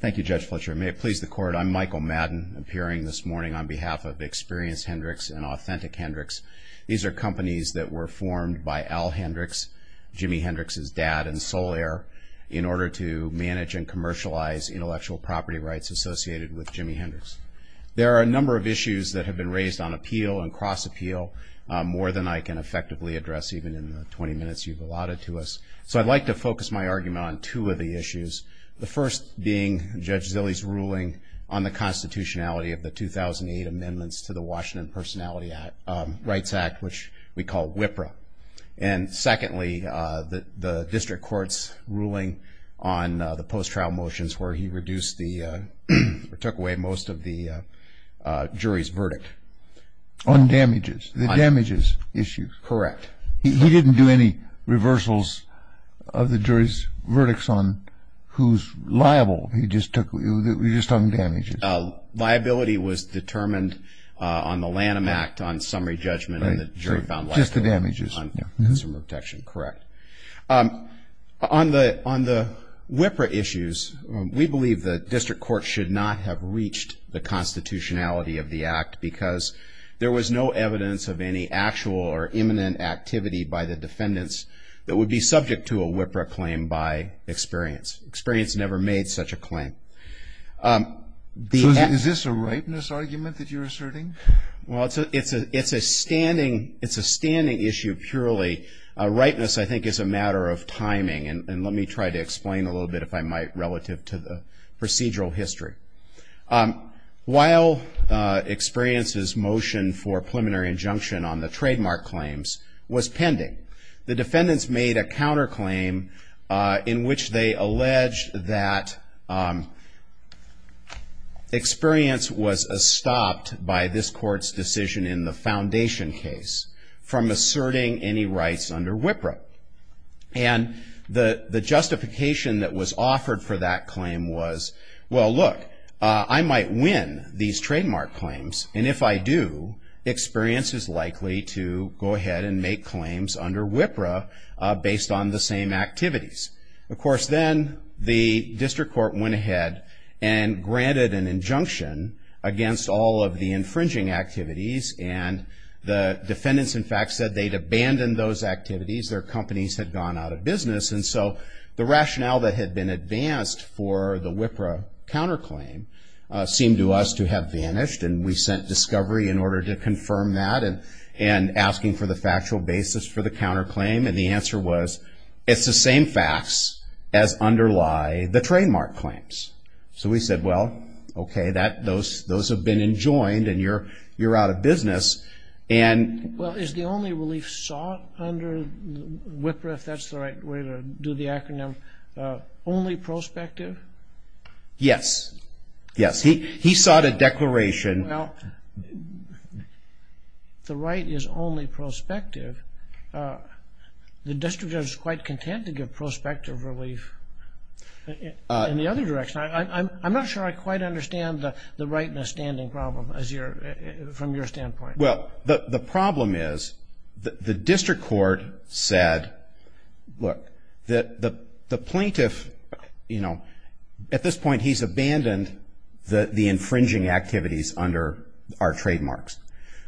Thank you, Judge Fletcher. May it please the Court, I'm Michael Madden, appearing this morning on behalf of Experience Hendrix and Authentic Hendrix. These are companies that were formed by Al Hendrix, Jimmy Hendrix's dad and sole heir, in order to manage and commercialize intellectual property rights associated with Jimmy Hendrix. There are a number of issues that have been raised on appeal and cross-appeal, more than I can effectively address even in the 20 minutes you've allotted to us. So I'd like to focus my argument on two of the issues. The first being Judge Zille's ruling on the constitutionality of the 2008 amendments to the Washington Personality Rights Act, which we call WIPRA. And secondly, the district court's ruling on the post-trial motions where he reduced the, or took away most of the jury's verdict. On damages, the damages issue. Correct. He didn't do any reversals of the jury's verdicts on who's liable, he just took, he just took the damages. Liability was determined on the Lanham Act on summary judgment and the jury found liable. Just the damages. On consumer protection, correct. On the WIPRA issues, we believe the district court should not have reached the constitutionality of the act because there was no evidence of any actual or imminent activity by the defendants that would be subject to a WIPRA claim by experience. Experience never made such a claim. So is this a ripeness argument that you're asserting? Well, it's a standing issue purely. Ripeness, I think, is a matter of timing. And let me try to explain a little bit, if I might, relative to the procedural history. While experience's motion for preliminary injunction on the trademark claims was pending, the defendants made a counterclaim in which they alleged that experience was stopped by this court's decision in the foundation case from asserting any rights under WIPRA. And the justification that was offered for that claim was, well, look, I might win these trademark claims. And if I do, experience is likely to go ahead and make claims under WIPRA based on the same activities. Of course, then the district court went ahead and granted an injunction against all of the infringing activities. And the defendants, in fact, said they'd abandoned those activities. Their companies had gone out of business. And so the rationale that had been advanced for the WIPRA counterclaim seemed to us to have vanished. And we sent discovery in order to confirm that and asking for the factual basis for the counterclaim. And the answer was, it's the same facts as underlie the trademark claims. So we said, well, okay, those have been enjoined and you're out of business. Well, is the only relief sought under WIPRA, if that's the right way to do the acronym, only prospective? Yes. Yes. He sought a declaration. Well, the right is only prospective. The district court is quite content to give prospective relief in the other direction. I'm not sure I quite understand the right in a standing problem from your standpoint. Well, the problem is the district court said, look, that the plaintiff, you know, at this point he's abandoned the infringing activities under our trademarks.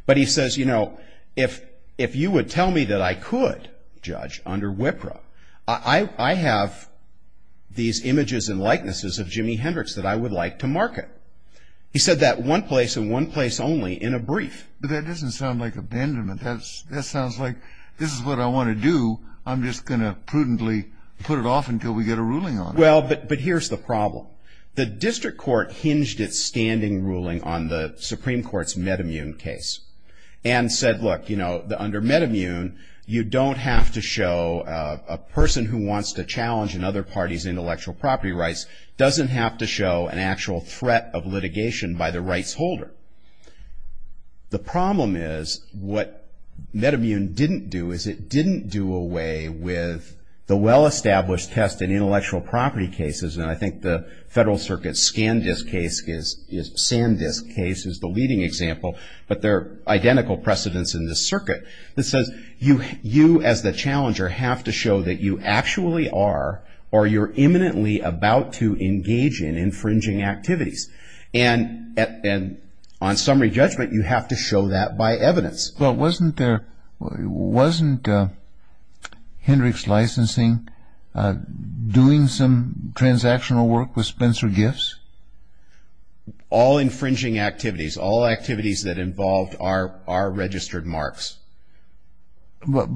But he says, you know, if you would tell me that I could judge under WIPRA, I have these images and likenesses of Jimi Hendrix that I would like to market. He said that one place and one place only in a brief. But that doesn't sound like abandonment. That sounds like this is what I want to do. I'm just going to prudently put it off until we get a ruling on it. Well, but here's the problem. The district court hinged its standing ruling on the Supreme Court's MedImmune case and said, look, you know, under MedImmune you don't have to show a person who wants to challenge another party's intellectual property rights doesn't have to show an actual threat of litigation by the rights holder. The problem is what MedImmune didn't do is it didn't do away with the well-established test in intellectual property cases. And I think the Federal Circuit's ScanDisc case is the leading example. But there are identical precedents in this circuit that says you as the challenger have to show that you actually are or you're imminently about to engage in infringing activities. And on summary judgment, you have to show that by evidence. Well, wasn't Hendricks Licensing doing some transactional work with Spencer Gifts? All infringing activities, all activities that involved are registered marks. But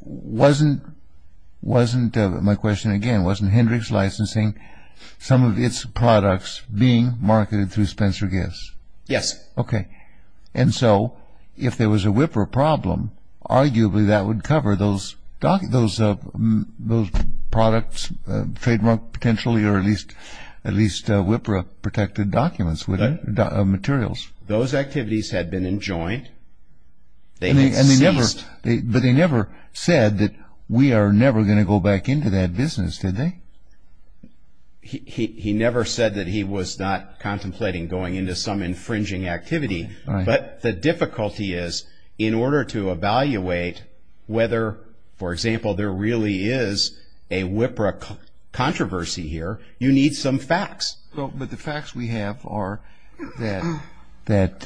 wasn't, my question again, wasn't Hendricks Licensing, some of its products being marketed through Spencer Gifts? Yes. Okay. And so if there was a WIPRA problem, arguably that would cover those products trademarked potentially or at least WIPRA-protected documents, materials. Those activities had been enjoined. They had ceased. But they never said that we are never going to go back into that business, did they? He never said that he was not contemplating going into some infringing activity. But the difficulty is in order to evaluate whether, for example, there really is a WIPRA controversy here, you need some facts. Well, but the facts we have are that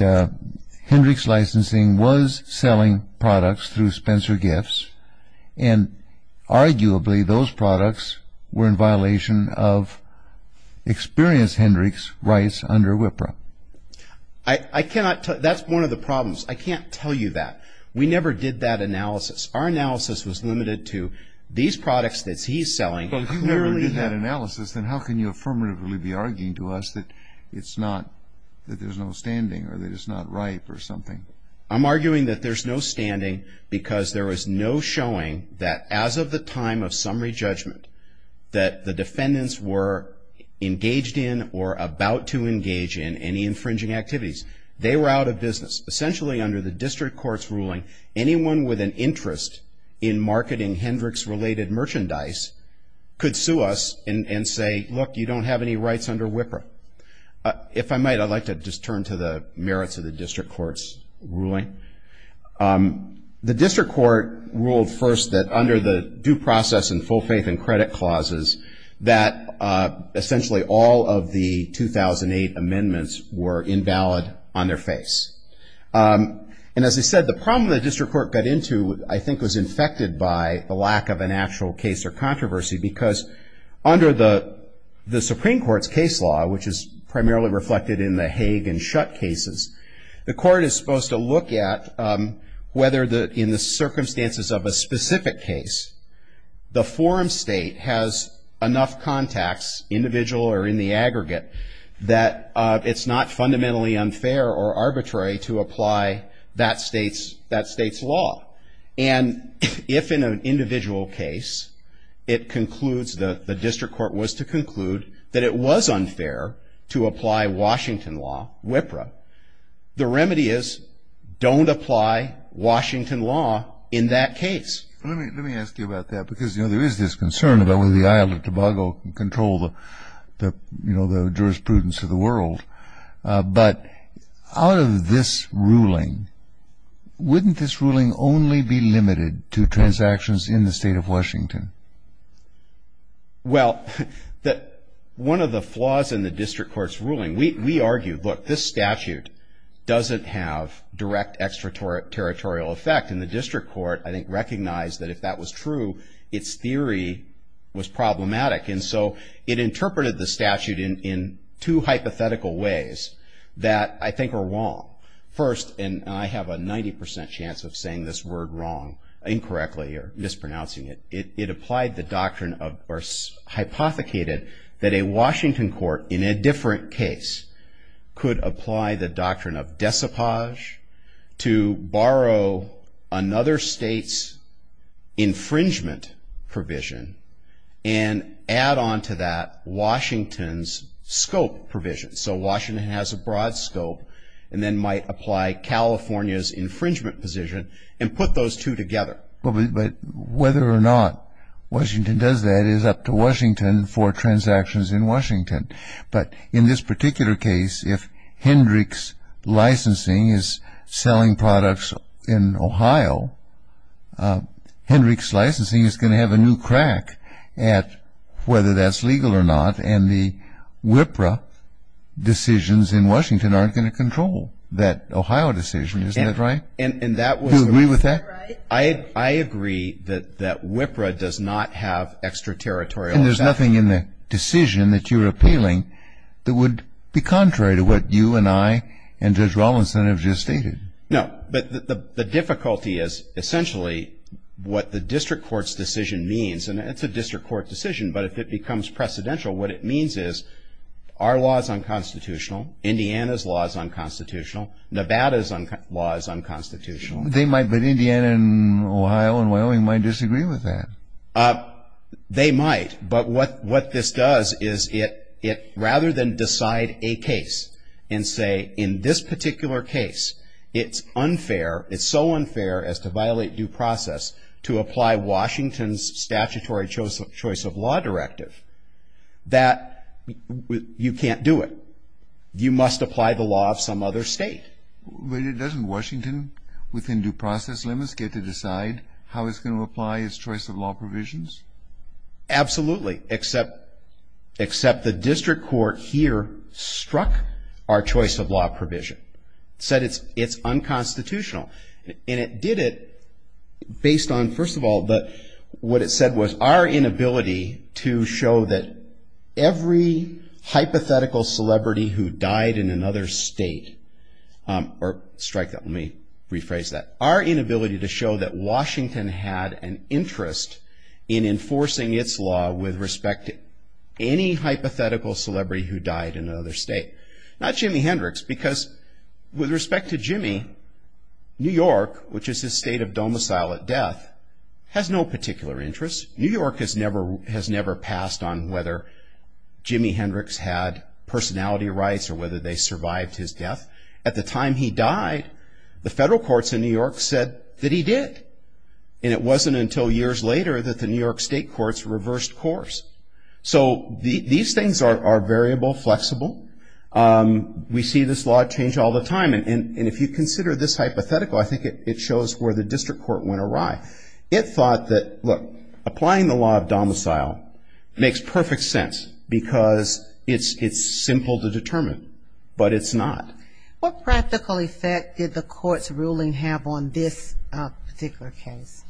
Hendricks Licensing was selling products through Spencer Gifts, and arguably those products were in violation of experienced Hendricks rights under WIPRA. I cannot tell you. That's one of the problems. I can't tell you that. We never did that analysis. Our analysis was limited to these products that he's selling. Well, if you never did that analysis, then how can you affirmatively be arguing to us that it's not, that there's no standing or that it's not ripe or something? I'm arguing that there's no standing because there was no showing that as of the time of summary judgment that the defendants were engaged in or about to engage in any infringing activities. They were out of business. Essentially, under the district court's ruling, anyone with an interest in marketing Hendricks-related merchandise could sue us and say, look, you don't have any rights under WIPRA. If I might, I'd like to just turn to the merits of the district court's ruling. The district court ruled first that under the due process and full faith and credit clauses, that essentially all of the 2008 amendments were invalid on their face. And as I said, the problem the district court got into, I think, was infected by the lack of an actual case or controversy because under the Supreme Court's case law, which is primarily reflected in the Hague and Schutt cases, the court is supposed to look at whether in the circumstances of a specific case, the forum state has enough contacts, individual or in the aggregate, that it's not fundamentally unfair or arbitrary to apply that state's law. And if in an individual case it concludes, the district court was to conclude that it was unfair to apply Washington law, WIPRA, the remedy is don't apply Washington law in that case. Let me ask you about that because, you know, there is this concern about whether the Isle of Tobago can control the, you know, the jurisprudence of the world. But out of this ruling, wouldn't this ruling only be limited to transactions in the state of Washington? Well, one of the flaws in the district court's ruling, we argue, look, this statute doesn't have direct extraterritorial effect. And the district court, I think, recognized that if that was true, its theory was problematic. And so it interpreted the statute in two hypothetical ways that I think are wrong. First, and I have a 90 percent chance of saying this word wrong incorrectly or mispronouncing it, it applied the doctrine of or hypothecated that a Washington court in a different case could apply the doctrine of decipage to borrow another state's infringement provision and add on to that Washington's scope provision. So Washington has a broad scope and then might apply California's infringement position and put those two together. But whether or not Washington does that is up to Washington for transactions in Washington. But in this particular case, if Hendricks Licensing is selling products in Ohio, Hendricks Licensing is going to have a new crack at whether that's legal or not, and the WIPRA decisions in Washington aren't going to control that Ohio decision. Isn't that right? Do you agree with that? I agree that WIPRA does not have extraterritorial effect. Then there's nothing in the decision that you're appealing that would be contrary to what you and I and Judge Rawlinson have just stated. No, but the difficulty is essentially what the district court's decision means, and it's a district court decision, but if it becomes precedential, what it means is our law is unconstitutional, Indiana's law is unconstitutional, Nevada's law is unconstitutional. But Indiana and Ohio and Wyoming might disagree with that. They might, but what this does is it rather than decide a case and say in this particular case it's unfair, it's so unfair as to violate due process to apply Washington's statutory choice of law directive, that you can't do it. You must apply the law of some other state. But doesn't Washington, within due process limits, get to decide how it's going to apply its choice of law provisions? Absolutely, except the district court here struck our choice of law provision, said it's unconstitutional. And it did it based on, first of all, what it said was our inability to show that every hypothetical celebrity who died in another state, or strike that, let me rephrase that, our inability to show that Washington had an interest in enforcing its law with respect to any hypothetical celebrity who died in another state. Not Jimi Hendrix, because with respect to Jimi, New York, which is his state of domicile at death, has no particular interest. New York has never passed on whether Jimi Hendrix had personality rights or whether they survived his death. At the time he died, the federal courts in New York said that he did. And it wasn't until years later that the New York state courts reversed course. So these things are variable, flexible. We see this law change all the time. And if you consider this hypothetical, I think it shows where the district court went awry. It thought that, look, applying the law of domicile makes perfect sense because it's simple to determine, but it's not. What practical effect did the court's ruling have on this particular case?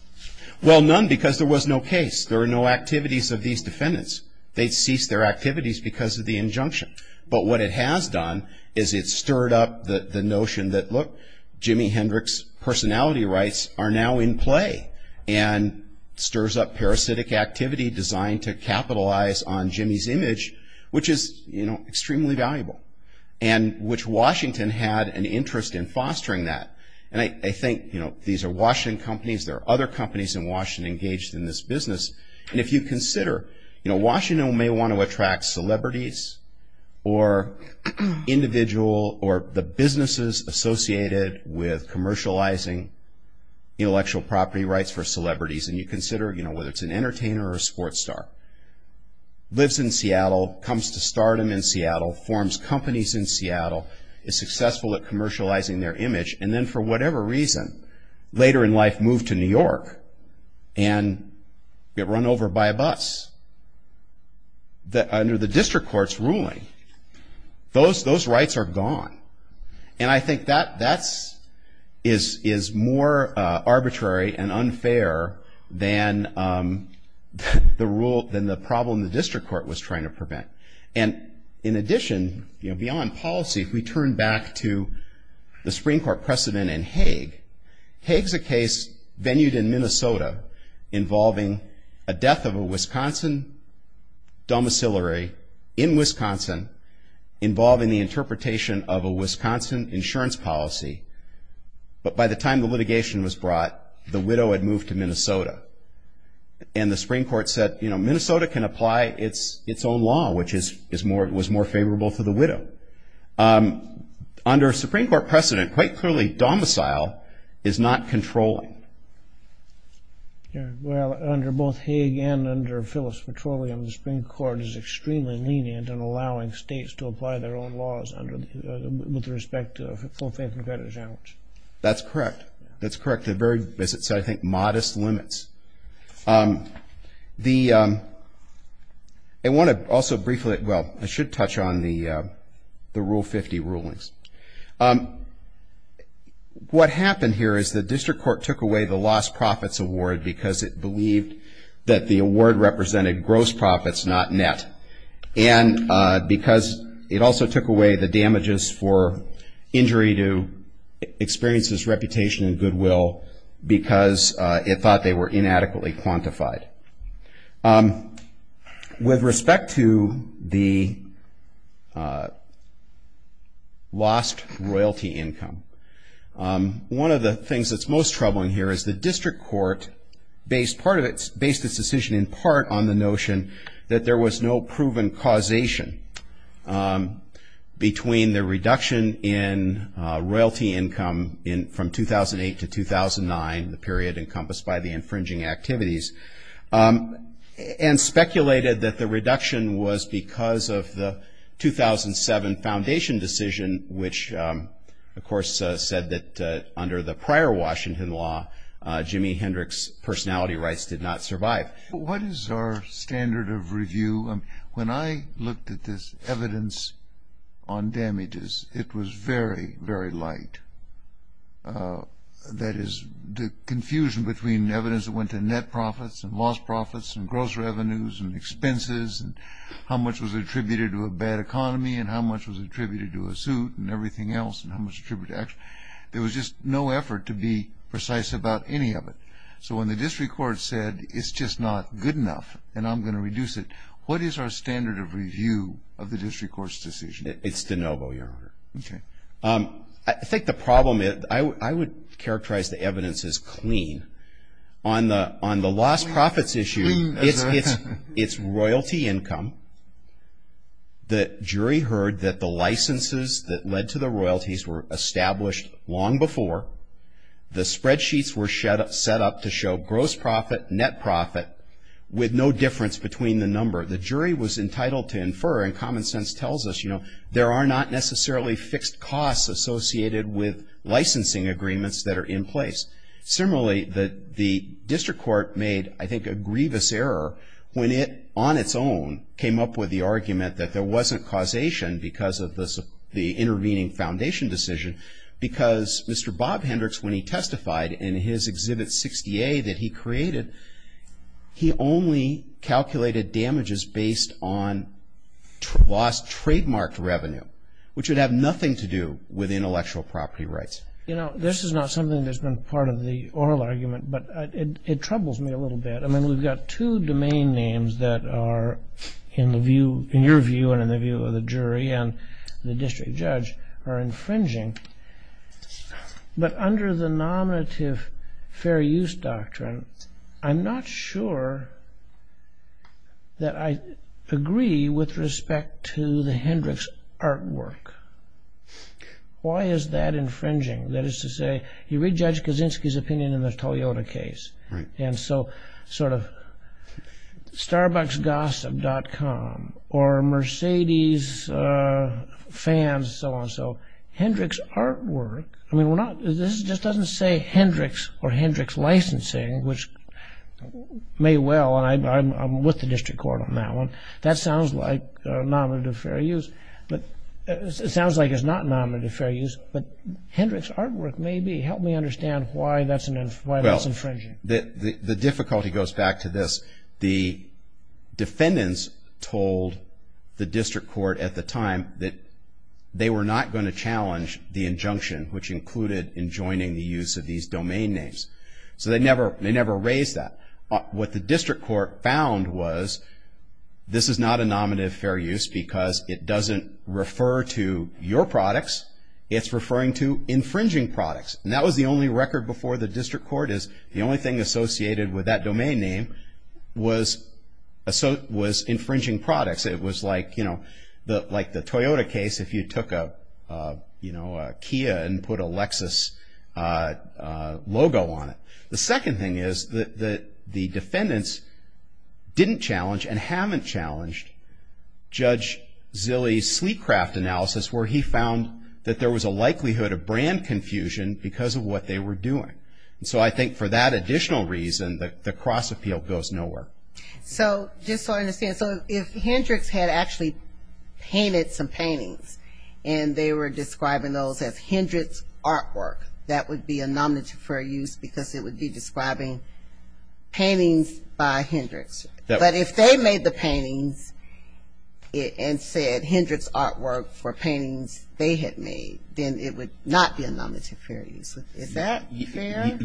Well, none because there was no case. There were no activities of these defendants. They ceased their activities because of the injunction. Jimi Hendrix's personality rights are now in play and stirs up parasitic activity designed to capitalize on Jimi's image, which is, you know, extremely valuable, and which Washington had an interest in fostering that. And I think, you know, these are Washington companies. There are other companies in Washington engaged in this business. And if you consider, you know, Washington may want to attract celebrities or individual or the businesses associated with commercializing intellectual property rights for celebrities, and you consider, you know, whether it's an entertainer or a sports star, lives in Seattle, comes to stardom in Seattle, forms companies in Seattle, is successful at commercializing their image, and then for whatever reason later in life moved to New York and get run over by a bus, under the district court's ruling, those rights are gone. And I think that is more arbitrary and unfair than the rule, than the problem the district court was trying to prevent. And in addition, you know, beyond policy, if we turn back to the Supreme Court precedent in Haig, Haig is a case venued in Minnesota involving a death of a Wisconsin domiciliary in Wisconsin involving the interpretation of a Wisconsin insurance policy. But by the time the litigation was brought, the widow had moved to Minnesota. And the Supreme Court said, you know, Minnesota can apply its own law, which was more favorable for the widow. But under a Supreme Court precedent, quite clearly domicile is not controlling. Well, under both Haig and under Phillips Petroleum, the Supreme Court is extremely lenient in allowing states to apply their own laws with respect to full faith and credit insurance. That's correct. That's correct. They're very, as I said, I think, modest limits. I want to also briefly, well, I should touch on the Rule 50 rulings. What happened here is the district court took away the lost profits award because it believed that the award represented gross profits, not net. And because it also took away the damages for injury to experiences, reputation and goodwill because it thought they were inadequately quantified. With respect to the lost royalty income, one of the things that's most troubling here is the district court based part of it, based its decision in part on the notion that there was no proven causation between the reduction in royalty income from 2008 to 2009, the period encompassed by the infringing activities, and speculated that the reduction was because of the 2007 foundation decision, which of course said that under the prior Washington law, Jimi Hendrix's personality rights did not survive. What is our standard of review? I mean, when I looked at this evidence on damages, it was very, very light. That is, the confusion between evidence that went to net profits and lost profits and gross revenues and expenses and how much was attributed to a bad economy and how much was attributed to a suit and everything else and how much attributed to action. There was just no effort to be precise about any of it. So when the district court said it's just not good enough and I'm going to reduce it, what is our standard of review of the district court's decision? It's de novo, Your Honor. Okay. I think the problem is, I would characterize the evidence as clean. On the lost profits issue, it's royalty income. The jury heard that the licenses that led to the royalties were established long before. The spreadsheets were set up to show gross profit, net profit, with no difference between the number. The jury was entitled to infer, and common sense tells us, you know, there are not necessarily fixed costs associated with licensing agreements that are in place. Similarly, the district court made, I think, a grievous error when it, on its own, came up with the argument that there wasn't causation because of the intervening foundation decision because Mr. Bob Hendricks, when he testified in his Exhibit 60A that he created, he only calculated damages based on lost trademarked revenue, which would have nothing to do with intellectual property rights. You know, this is not something that's been part of the oral argument, but it troubles me a little bit. I mean, we've got two domain names that are, in the view, in your view and in the view of the jury and the district judge, are infringing. But under the nominative fair use doctrine, I'm not sure that I agree with respect to the Hendricks artwork. Why is that infringing? That is to say, you read Judge Kaczynski's opinion in the Toyota case, and so sort of starbucksgossip.com or Mercedes fans and so on. So Hendricks artwork, I mean, this just doesn't say Hendricks or Hendricks licensing, which may well, and I'm with the district court on that one, that sounds like nominative fair use. It sounds like it's not nominative fair use, but Hendricks artwork may be. Help me understand why that's infringing. The difficulty goes back to this. The defendants told the district court at the time that they were not going to challenge the injunction, which included enjoining the use of these domain names. So they never raised that. What the district court found was this is not a nominative fair use because it doesn't refer to your products. It's referring to infringing products. And that was the only record before the district court, is the only thing associated with that domain name was infringing products. It was like the Toyota case if you took a Kia and put a Lexus logo on it. The second thing is that the defendants didn't challenge and haven't challenged Judge Zilley's sleep craft analysis where he found that there was a likelihood of brand confusion because of what they were doing. So I think for that additional reason, the cross appeal goes nowhere. So just so I understand, so if Hendricks had actually painted some paintings and they were describing those as Hendricks artwork, that would be a nominative fair use because it would be describing paintings by Hendricks. But if they made the paintings and said Hendricks artwork for paintings they had made, then it would not be a nominative fair use. Is that fair?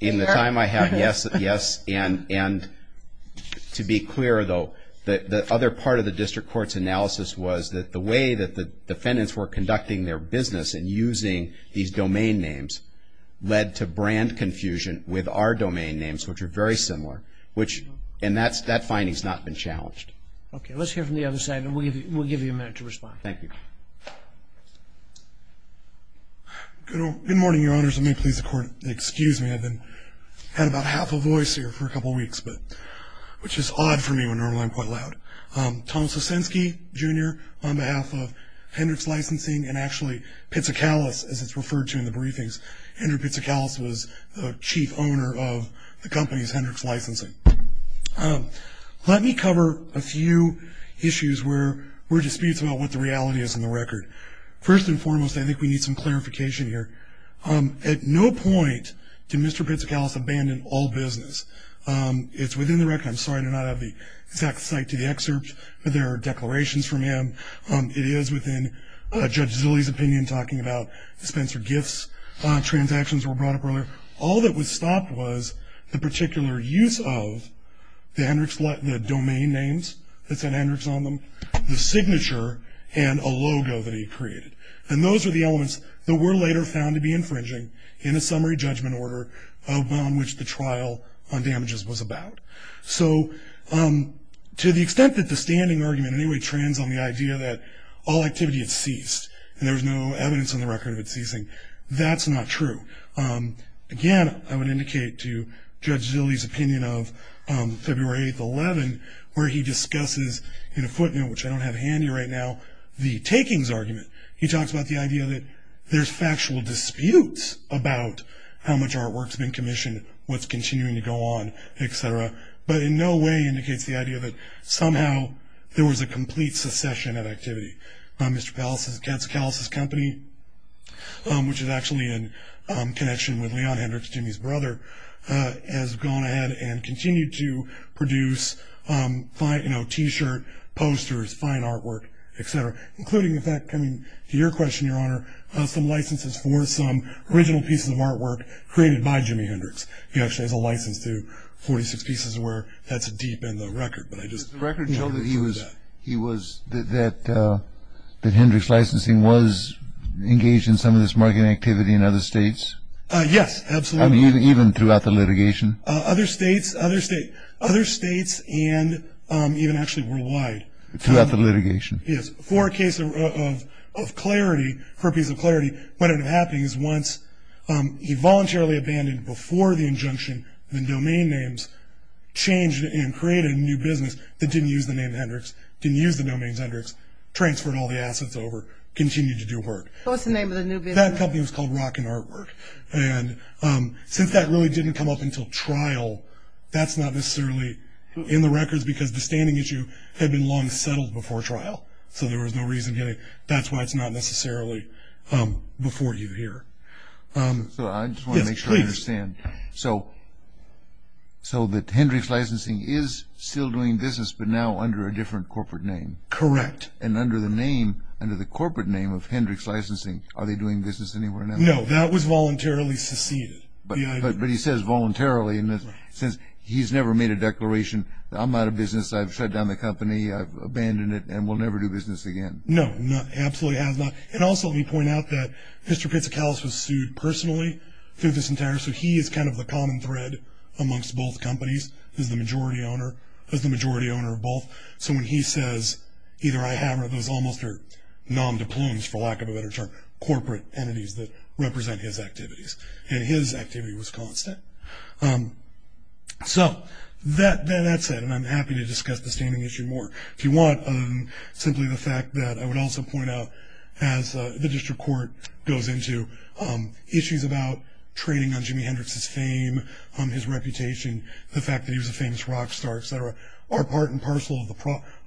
In the time I have, yes. And to be clear, though, the other part of the district court's analysis was that the way that the defendants were conducting their business and using these domain names led to brand confusion with our domain names, which are very similar. And that finding has not been challenged. Okay, let's hear from the other side, and we'll give you a minute to respond. Thank you. Good morning, Your Honors, and may it please the Court, excuse me, I've had about half a voice here for a couple of weeks, which is odd for me when normally I'm quite loud. Thomas Osinski, Jr., on behalf of Hendricks Licensing and actually Pizzicalis, as it's referred to in the briefings. Andrew Pizzicalis was the chief owner of the company's Hendricks Licensing. Let me cover a few issues where there are disputes about what the reality is in the record. First and foremost, I think we need some clarification here. At no point did Mr. Pizzicalis abandon all business. It's within the record. I'm sorry to not have the exact site to the excerpt, but there are declarations from him. It is within Judge Zilli's opinion, talking about Spencer Giff's transactions were brought up earlier. All that was stopped was the particular use of the Hendricks, the domain names that said Hendricks on them, the signature, and a logo that he created. And those are the elements that were later found to be infringing in a summary judgment order on which the trial on damages was about. So to the extent that the standing argument anyway trends on the idea that all activity had ceased, and there was no evidence on the record of it ceasing, that's not true. Again, I would indicate to Judge Zilli's opinion of February 8th, 2011, where he discusses in a footnote, which I don't have handy right now, the takings argument. He talks about the idea that there's factual disputes about how much artwork's been commissioned, what's continuing to go on, et cetera, but in no way indicates the idea that somehow there was a complete secession of activity. Mr. Pallis's Cancellation Company, which is actually in connection with Leon Hendricks, Jimmy's brother, has gone ahead and continued to produce T-shirt posters, fine artwork, et cetera, including, in fact, coming to your question, Your Honor, some licenses for some original pieces of artwork created by Jimmy Hendricks. He actually has a license to 46 pieces of work. That's deep in the record. The record showed that Hendricks Licensing was engaged in some of this marketing activity in other states? Yes, absolutely. Even throughout the litigation? Other states and even actually worldwide. Throughout the litigation? Yes. For a piece of clarity, what ended up happening is once he voluntarily abandoned, before the injunction, the domain names, changed and created a new business that didn't use the name Hendricks, didn't use the domain Hendricks, transferred all the assets over, continued to do work. What was the name of the new business? That company was called Rockin' Artwork, and since that really didn't come up until trial, that's not necessarily in the records because the standing issue had been long settled before trial, so there was no reason getting it. That's why it's not necessarily before you here. I just want to make sure I understand. So Hendricks Licensing is still doing business but now under a different corporate name? Correct. And under the name, under the corporate name of Hendricks Licensing, are they doing business anywhere now? No, that was voluntarily seceded. But he says voluntarily. He's never made a declaration, I'm out of business, I've shut down the company, I've abandoned it and will never do business again. No, absolutely has not. And also let me point out that Mr. Pizzicalis was sued personally through this entire, so he is kind of the common thread amongst both companies. He's the majority owner of both. So when he says either I have or those almost are nom de plumes, for lack of a better term, corporate entities that represent his activities, and his activity was constant. So that said, and I'm happy to discuss the standing issue more if you want, other than simply the fact that I would also point out, as the district court goes into, issues about trading on Jimi Hendrix's fame, on his reputation, the fact that he was a famous rock star, et cetera, are part and parcel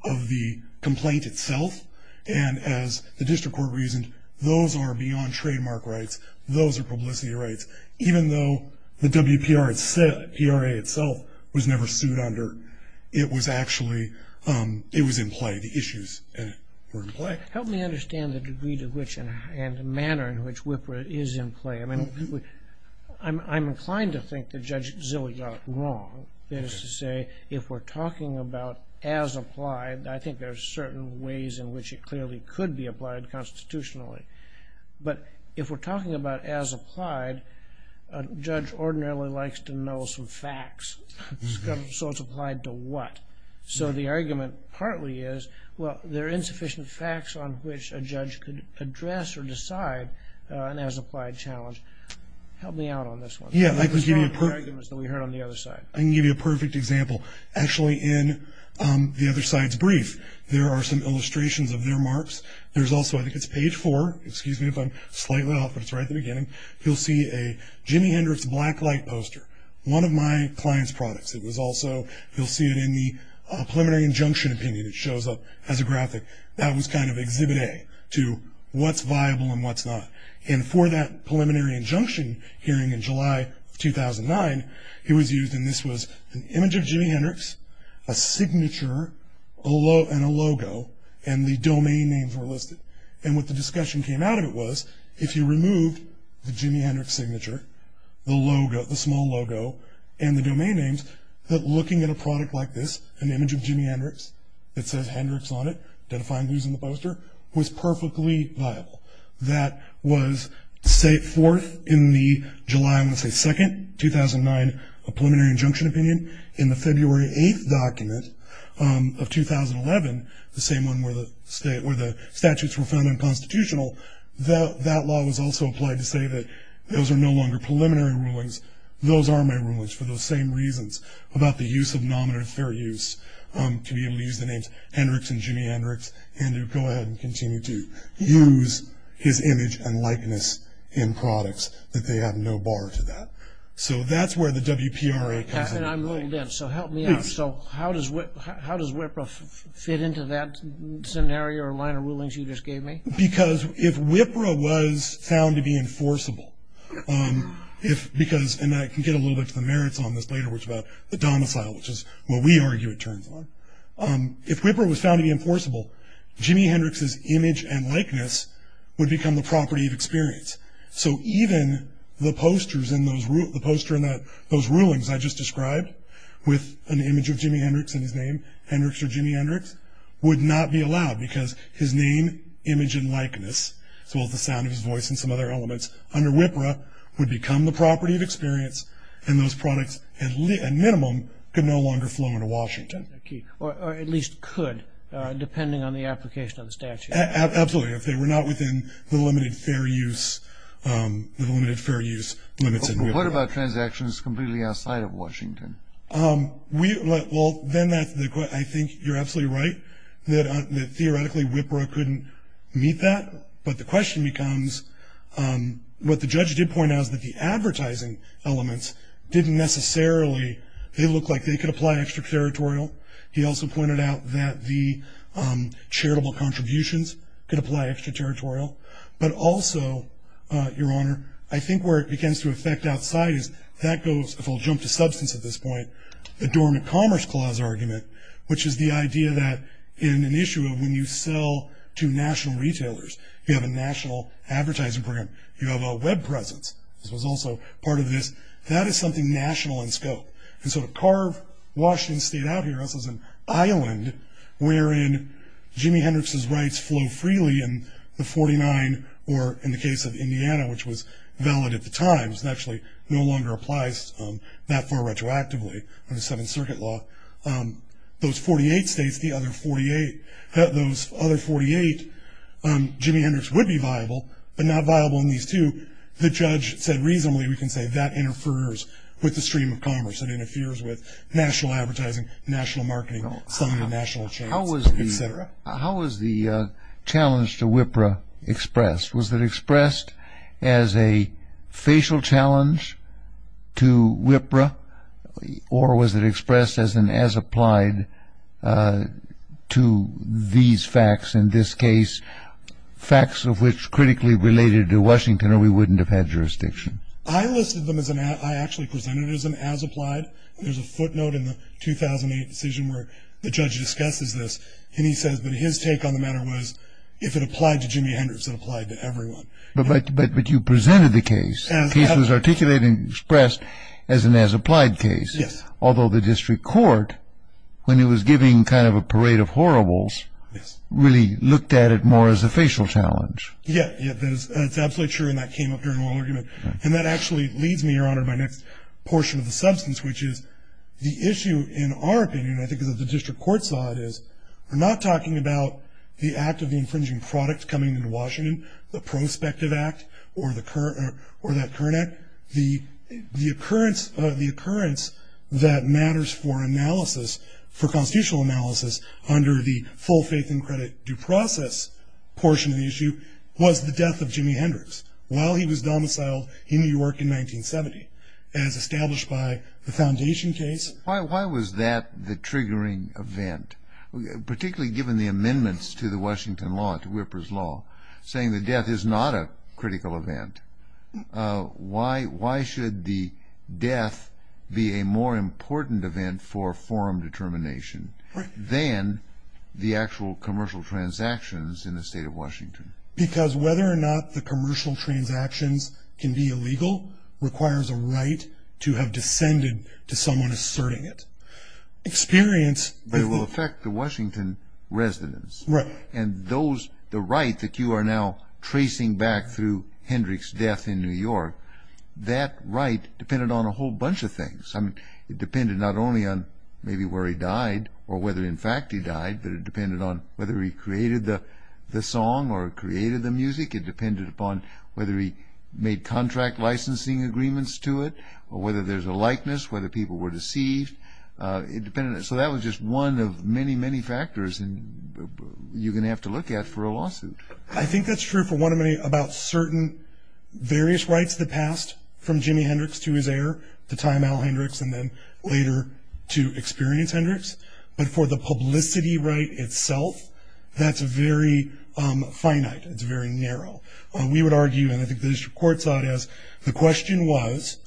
of the complaint itself. And as the district court reasoned, those are beyond trademark rights, those are publicity rights. Even though the WPRA itself was never sued under, it was actually, it was in play, the issues were in play. Help me understand the degree to which and the manner in which WPRA is in play. I mean, I'm inclined to think that Judge Zille got it wrong. That is to say, if we're talking about as applied, I think there are certain ways in which it clearly could be applied constitutionally. But if we're talking about as applied, a judge ordinarily likes to know some facts. So it's applied to what? So the argument partly is, well, there are insufficient facts on which a judge could address or decide an as applied challenge. Help me out on this one. Yeah, I can give you a perfect example. Actually, in the other side's brief, there are some illustrations of their marks. There's also, I think it's page four, excuse me if I'm slightly off, but it's right at the beginning. You'll see a Jimi Hendrix blacklight poster, one of my client's products. It was also, you'll see it in the preliminary injunction opinion that shows up as a graphic. That was kind of exhibit A to what's viable and what's not. And for that preliminary injunction hearing in July of 2009, it was used, and this was an image of Jimi Hendrix, a signature, and a logo, and the domain names were listed. And what the discussion came out of it was, if you removed the Jimi Hendrix signature, the logo, the small logo, and the domain names, that looking at a product like this, an image of Jimi Hendrix that says Hendrix on it, identifying who's in the poster, was perfectly viable. That was, say, fourth in the July, I want to say second, 2009 preliminary injunction opinion. In the February 8th document of 2011, the same one where the statutes were found unconstitutional, that law was also applied to say that those are no longer preliminary rulings. Those are my rulings for those same reasons about the use of nominative fair use, to be able to use the names Hendrix and Jimi Hendrix, and to go ahead and continue to use his image and likeness in products, that they have no bar to that. So that's where the WPRA comes in. And I'm a little deaf, so help me out. So how does WIPRA fit into that scenario or minor rulings you just gave me? Because if WIPRA was found to be enforceable, if, because, and I can get a little bit to the merits on this later, which is about the domicile, which is what we argue it turns on. If WIPRA was found to be enforceable, Jimi Hendrix's image and likeness would become the property of experience. So even the posters in those, the poster in those rulings I just described, with an image of Jimi Hendrix in his name, Hendrix or Jimi Hendrix, would not be allowed because his name, image, and likeness, as well as the sound of his voice and some other elements under WIPRA, would become the property of experience, and those products at minimum could no longer flow into Washington. Or at least could, depending on the application of the statute. Absolutely. If they were not within the limited fair use, the limited fair use limits in WIPRA. But what about transactions completely outside of Washington? Well, then that's the, I think you're absolutely right, that theoretically WIPRA couldn't meet that. But the question becomes, what the judge did point out is that the advertising elements didn't necessarily, they looked like they could apply extraterritorial. He also pointed out that the charitable contributions could apply extraterritorial. But also, your honor, I think where it begins to affect outside is, that goes, if I'll jump to substance at this point, the dormant commerce clause argument, which is the idea that in an issue of when you sell to national retailers, you have a national advertising program, you have a web presence. This was also part of this. That is something national in scope. And so to carve Washington State out here, this is an island wherein Jimi Hendrix's rights flow freely in the 49, or in the case of Indiana, which was valid at the time. It's actually no longer applies that far retroactively under Seventh Circuit law. Those 48 states, the other 48, those other 48, Jimi Hendrix would be viable, but not viable in these two. The judge said reasonably we can say that interferes with the stream of commerce. It interferes with national advertising, national marketing, signing national chains, et cetera. How was the challenge to WIPRA expressed? Was it expressed as a facial challenge to WIPRA, or was it expressed as an as applied to these facts in this case, facts of which critically related to Washington or we wouldn't have had jurisdiction? I listed them as an act. I actually presented it as an as applied. There's a footnote in the 2008 decision where the judge discusses this, and he says, but his take on the matter was if it applied to Jimi Hendrix, it applied to everyone. But you presented the case. The case was articulated and expressed as an as applied case. Yes. Although the district court, when it was giving kind of a parade of horribles, really looked at it more as a facial challenge. Yes. It's absolutely true, and that came up during oral argument. And that actually leads me, Your Honor, to my next portion of the substance, which is the issue in our opinion, I think, of the district court side, is we're not talking about the act of the infringing product coming into Washington, the prospective act or that current act. The occurrence that matters for analysis, for constitutional analysis, under the full faith and credit due process portion of the issue, was the death of Jimi Hendrix while he was domiciled in New York in 1970, as established by the foundation case. Why was that the triggering event, particularly given the amendments to the Washington law, to Whipper's law, saying the death is not a critical event? Why should the death be a more important event for forum determination? Right. Than the actual commercial transactions in the state of Washington? Because whether or not the commercial transactions can be illegal requires a right to have descended to someone asserting it. Experience. It will affect the Washington residents. Right. And those, the right that you are now tracing back through Hendrix's death in New York, that right depended on a whole bunch of things. It depended not only on maybe where he died or whether, in fact, he died, but it depended on whether he created the song or created the music. It depended upon whether he made contract licensing agreements to it or whether there's a likeness, whether people were deceived. So that was just one of many, many factors you're going to have to look at for a lawsuit. I think that's true, for one, about certain various rights that passed from Jimi Hendrix to his heir, at the time Al Hendrix, and then later to experienced Hendrix. But for the publicity right itself, that's very finite. It's very narrow. We would argue, and I think the district court saw it as, the question was,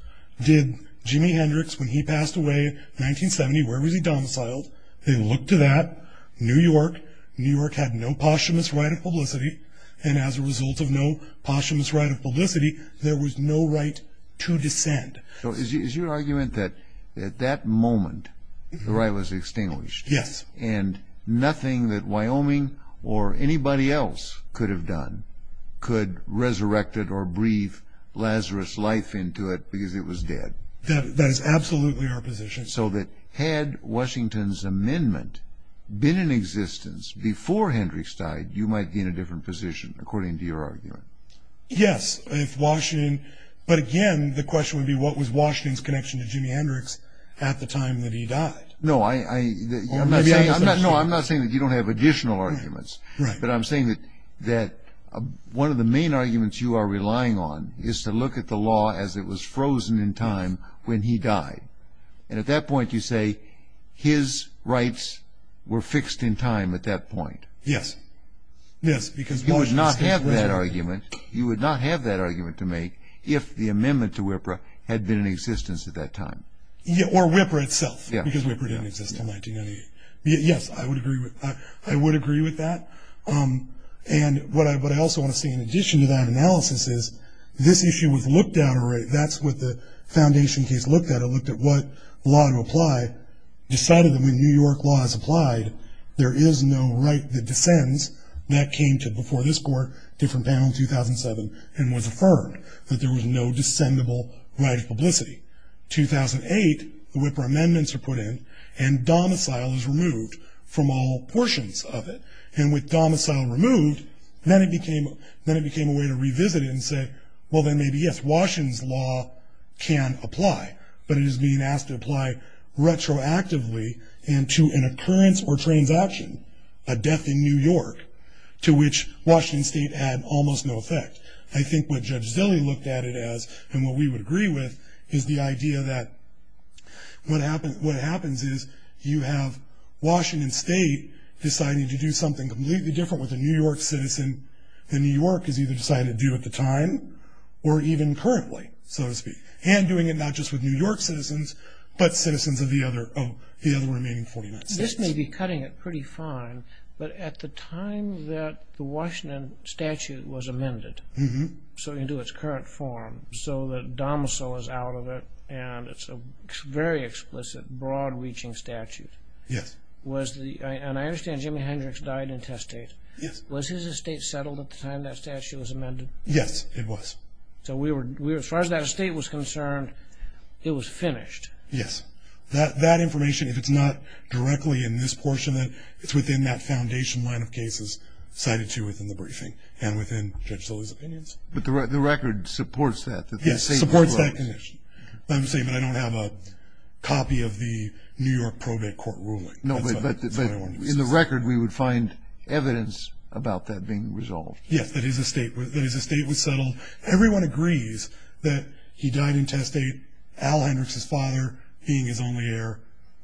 did Jimi Hendrix, when he passed away in 1970, where was he domiciled? They looked to that, New York. New York had no posthumous right of publicity, and as a result of no posthumous right of publicity, there was no right to descend. So is your argument that at that moment the right was extinguished and nothing that Wyoming or anybody else could have done could resurrect it or breathe Lazarus' life into it because it was dead? That is absolutely our position. So that had Washington's amendment been in existence before Hendrix died, you might be in a different position, according to your argument? Yes, if Washington, but again, the question would be what was Washington's connection to Jimi Hendrix at the time that he died? No, I'm not saying that you don't have additional arguments, but I'm saying that one of the main arguments you are relying on is to look at the law as it was frozen in time when he died, and at that point you say his rights were fixed in time at that point. Yes. You would not have that argument. You would not have that argument to make if the amendment to WIPRA had been in existence at that time. Or WIPRA itself, because WIPRA didn't exist until 1998. Yes, I would agree with that. And what I also want to say in addition to that analysis is this issue was looked at, that's what the foundation case looked at. It looked at what law to apply, decided that when New York law is applied, there is no right that descends. That came to before this court, different panel in 2007, and was affirmed that there was no descendable right of publicity. 2008, the WIPRA amendments are put in, and domicile is removed from all portions of it. And with domicile removed, then it became a way to revisit it and say, well, then maybe yes, Washington's law can apply, but it is being asked to apply retroactively and to an occurrence or transaction, a death in New York, to which Washington State had almost no effect. I think what Judge Zille looked at it as, and what we would agree with, is the idea that what happens is you have Washington State deciding to do something completely different with a New York citizen than New York has either decided to do at the time or even currently, so to speak. And doing it not just with New York citizens, but citizens of the other remaining 49 states. This may be cutting it pretty fine, but at the time that the Washington statute was amended, so into its current form, so that domicile is out of it, and it's a very explicit, broad-reaching statute. Yes. And I understand Jimi Hendrix died intestate. Yes. Was his estate settled at the time that statute was amended? Yes, it was. So as far as that estate was concerned, it was finished? Yes. That information, if it's not directly in this portion, it's within that foundation line of cases cited to you within the briefing and within Judge Zille's opinions. But the record supports that? Yes, it supports that condition. I'm saying that I don't have a copy of the New York probate court ruling. No, but in the record we would find evidence about that being resolved. Yes, that his estate was settled. Everyone agrees that he died intestate. Al Hendrix, his father, being his only heir,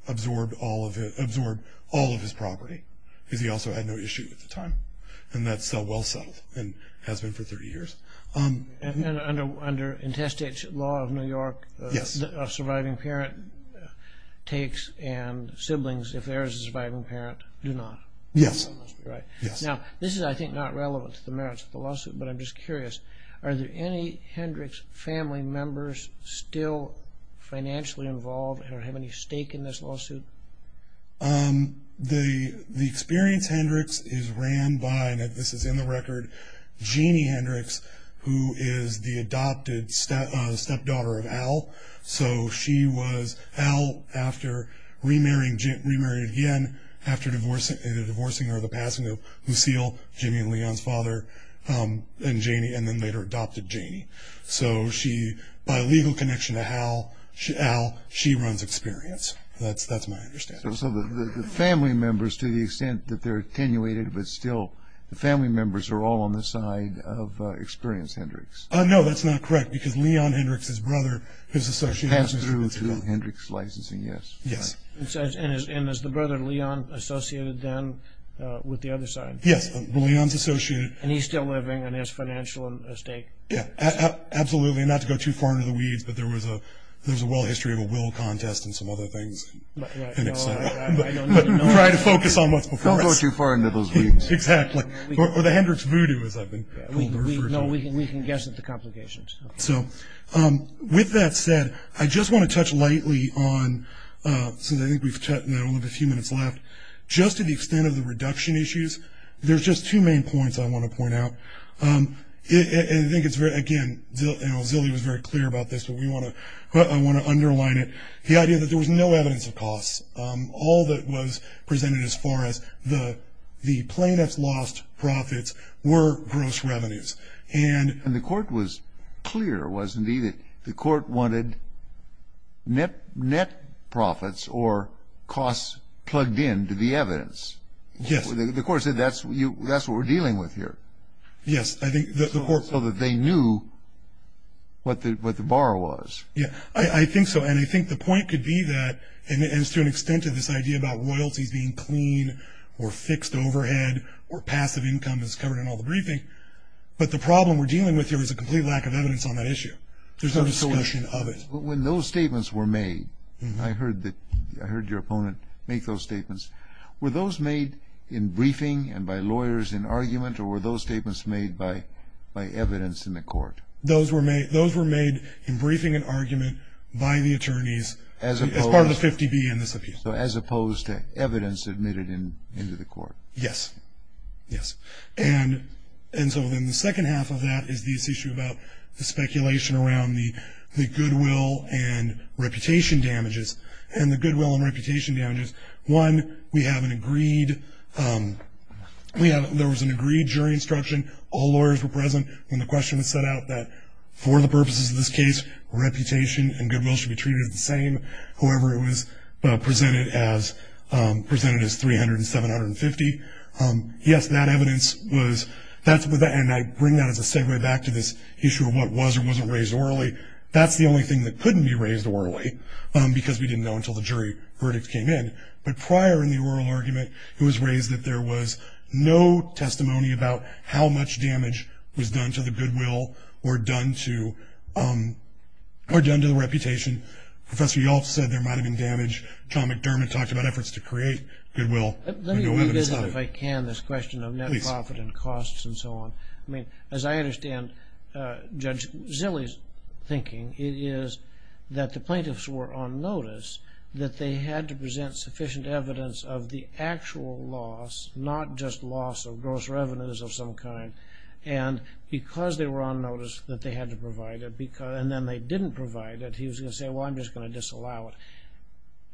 absorbed all of his property because he also had no issue at the time, and that's well settled and has been for 30 years. And under intestate law of New York, a surviving parent takes and siblings, if there is a surviving parent, do not. Yes. That must be right. Yes. Now, this is, I think, not relevant to the merits of the lawsuit, but I'm just curious. Are there any Hendrix family members still financially involved and have any stake in this lawsuit? The experienced Hendrix is ran by, and this is in the record, Jeannie Hendrix, who is the adopted stepdaughter of Al. So she was Al after remarrying again after the divorcing or the passing of Lucille, Jimmy and Leon's father, and Jeannie, and then later adopted Jeannie. So she, by legal connection to Al, she runs Experience. That's my understanding. So the family members, to the extent that they're attenuated, but still the family members are all on the side of Experienced Hendrix. No, that's not correct, because Leon Hendrix's brother is associated with Experienced Hendrix. Passed through to Hendrix Licensing, yes. Yes. And is the brother, Leon, associated then with the other side? Yes. Leon's associated. And he's still living and has financial stake? Yeah, absolutely, not to go too far into the weeds, but there was a well history of a will contest and some other things. Right. But try to focus on what's before us. Don't go too far into those weeds. Exactly. Or the Hendrix voodoo, as I've been told. No, we can guess at the complications. So with that said, I just want to touch lightly on, since I think we've only got a few minutes left, just to the extent of the reduction issues, there's just two main points I want to point out. And I think it's very, again, you know, Zilli was very clear about this, but I want to underline it. The idea that there was no evidence of costs. All that was presented as far as the plaintiff's lost profits were gross revenues. And the court was clear, wasn't he, that the court wanted net profits or costs plugged in to the evidence. Yes. The court said that's what we're dealing with here. Yes. So that they knew what the bar was. Yeah, I think so. And I think the point could be that, and it's to an extent to this idea about loyalties being clean or fixed overhead or passive income as covered in all the briefing, but the problem we're dealing with here is a complete lack of evidence on that issue. There's no discussion of it. When those statements were made, I heard your opponent make those statements. Were those made in briefing and by lawyers in argument, or were those statements made by evidence in the court? Those were made in briefing and argument by the attorneys as part of the 50B in this appeal. So as opposed to evidence admitted into the court. Yes. Yes. And so then the second half of that is this issue about the speculation around the goodwill and reputation damages, and the goodwill and reputation damages. One, we have an agreed, there was an agreed jury instruction. All lawyers were present when the question was set out that for the purposes of this case, reputation and goodwill should be treated the same, however it was presented as 300 and 750. Yes, that evidence was, and I bring that as a segue back to this issue of what was or wasn't raised orally, that's the only thing that couldn't be raised orally, because we didn't know until the jury verdict came in. But prior in the oral argument, it was raised that there was no testimony about how much damage was done to the goodwill or done to the reputation. Professor Yulf said there might have been damage. John McDermott talked about efforts to create goodwill. Let me revisit, if I can, this question of net profit and costs and so on. I mean, as I understand Judge Zille's thinking, it is that the plaintiffs were on notice that they had to present sufficient evidence of the actual loss, not just loss of gross revenues of some kind. And because they were on notice that they had to provide it, and then they didn't provide it, he was going to say, well, I'm just going to disallow it.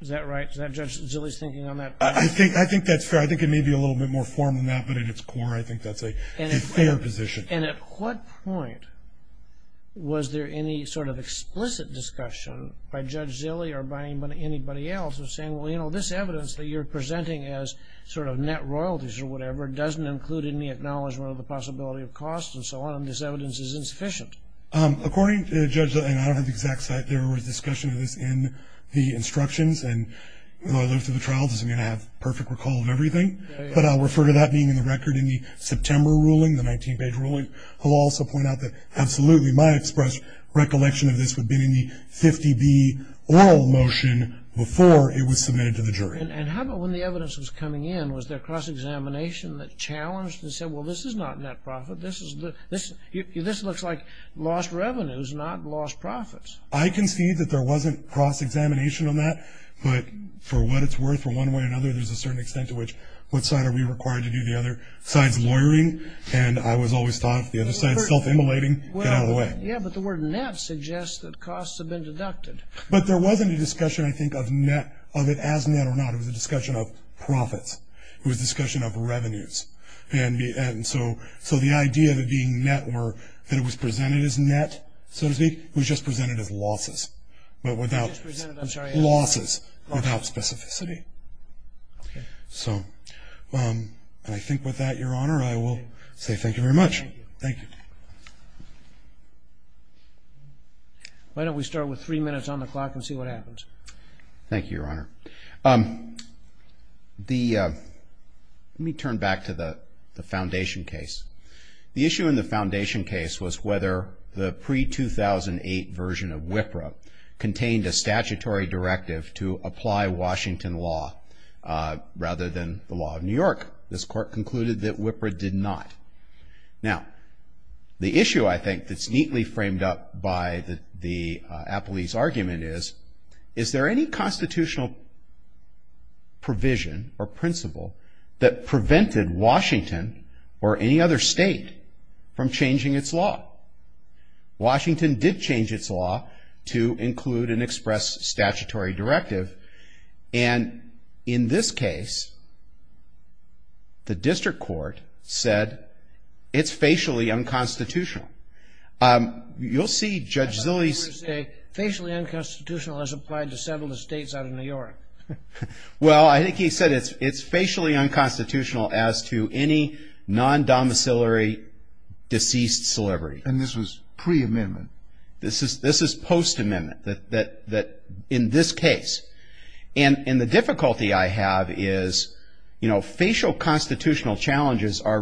Is that right? Is that Judge Zille's thinking on that? I think that's fair. I think it may be a little bit more formal than that, but at its core, I think that's a fair position. And at what point was there any sort of explicit discussion by Judge Zille or by anybody else of saying, well, you know, this evidence that you're presenting as sort of net royalties or whatever doesn't include any acknowledgment of the possibility of costs and so on, and this evidence is insufficient? According to Judge Zille, and I don't have the exact site, there was discussion of this in the instructions, and although I lived through the trial, this is going to have perfect recall of everything. But I'll refer to that being in the record in the September ruling, the 19-page ruling. I'll also point out that absolutely my express recollection of this would have been in the 50B oral motion before it was submitted to the jury. And how about when the evidence was coming in? Was there cross-examination that challenged and said, well, this is not net profit. This looks like lost revenues, not lost profits. I can see that there wasn't cross-examination on that, but for what it's worth, for one way or another, there's a certain extent to which what side are we required to do, the other side's lawyering, and I was always taught if the other side's self-immolating, get out of the way. Yeah, but the word net suggests that costs have been deducted. But there wasn't a discussion, I think, of it as net or not. It was a discussion of profits. It was a discussion of revenues. And so the idea of it being net were that it was presented as net, so to speak. It was just presented as losses. But without losses, without specificity. So I think with that, Your Honor, I will say thank you very much. Thank you. Why don't we start with three minutes on the clock and see what happens. Thank you, Your Honor. Let me turn back to the foundation case. The issue in the foundation case was whether the pre-2008 version of WIPRA contained a statutory directive to apply Washington law rather than the law of New York. This court concluded that WIPRA did not. Now, the issue, I think, that's neatly framed up by the appellee's argument is, is there any constitutional provision or principle that prevented Washington or any other state from changing its law? Washington did change its law to include and express statutory directive. And in this case, the district court said it's facially unconstitutional. You'll see Judge Zilley's. Judge Zilley, facially unconstitutional as applied to several states out of New York. Well, I think he said it's facially unconstitutional as to any non-domiciliary deceased celebrity. And this was pre-amendment? This is post-amendment, that in this case. And the difficulty I have is, you know, facial constitutional challenges are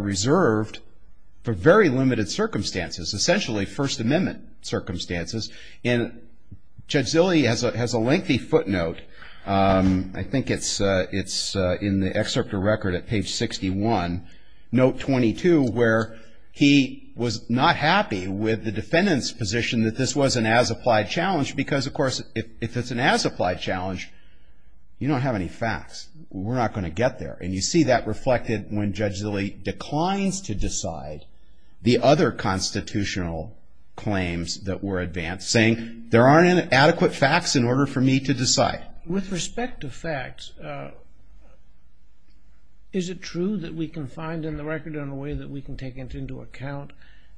And Judge Zilley has a lengthy footnote. I think it's in the excerpt of record at page 61, note 22, where he was not happy with the defendant's position that this was an as-applied challenge. Because, of course, if it's an as-applied challenge, you don't have any facts. We're not going to get there. And you see that reflected when Judge Zilley declines to decide the other constitutional claims that were advanced, saying there aren't adequate facts in order for me to decide. With respect to facts, is it true that we can find in the record in a way that we can take into account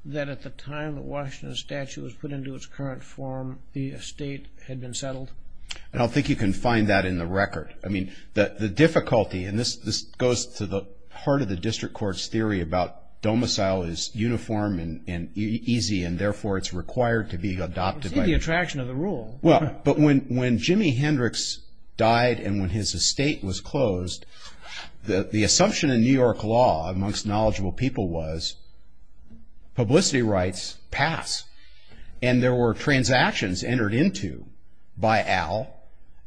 that at the time the Washington statue was put into its current form, the estate had been settled? I don't think you can find that in the record. I mean, the difficulty, and this goes to the heart of the district court's theory about how domicile is uniform and easy and, therefore, it's required to be adopted. It's in the attraction of the rule. But when Jimi Hendrix died and when his estate was closed, the assumption in New York law amongst knowledgeable people was publicity rights pass. And there were transactions entered into by Al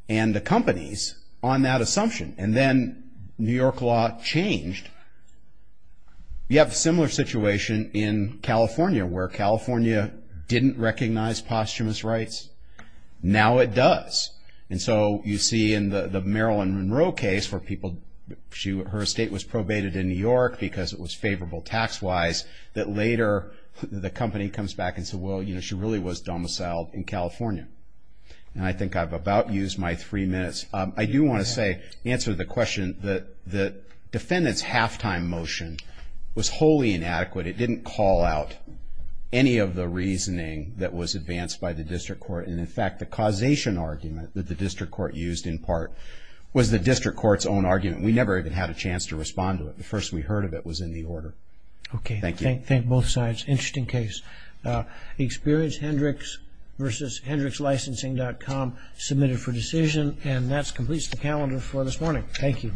and the companies on that assumption. And then New York law changed. You have a similar situation in California, where California didn't recognize posthumous rights. Now it does. And so you see in the Marilyn Monroe case where people, her estate was probated in New York because it was favorable tax-wise, that later the company comes back and says, well, you know, she really was domiciled in California. And I think I've about used my three minutes. I do want to say, answer the question, that the defendant's halftime motion was wholly inadequate. It didn't call out any of the reasoning that was advanced by the district court. And, in fact, the causation argument that the district court used in part was the district court's own argument. We never even had a chance to respond to it. The first we heard of it was in the order. Okay. Thank you. Thank both sides. Interesting case. Experience Hendricks v. HendricksLicensing.com, submitted for decision. And that completes the calendar for this morning. Thank you.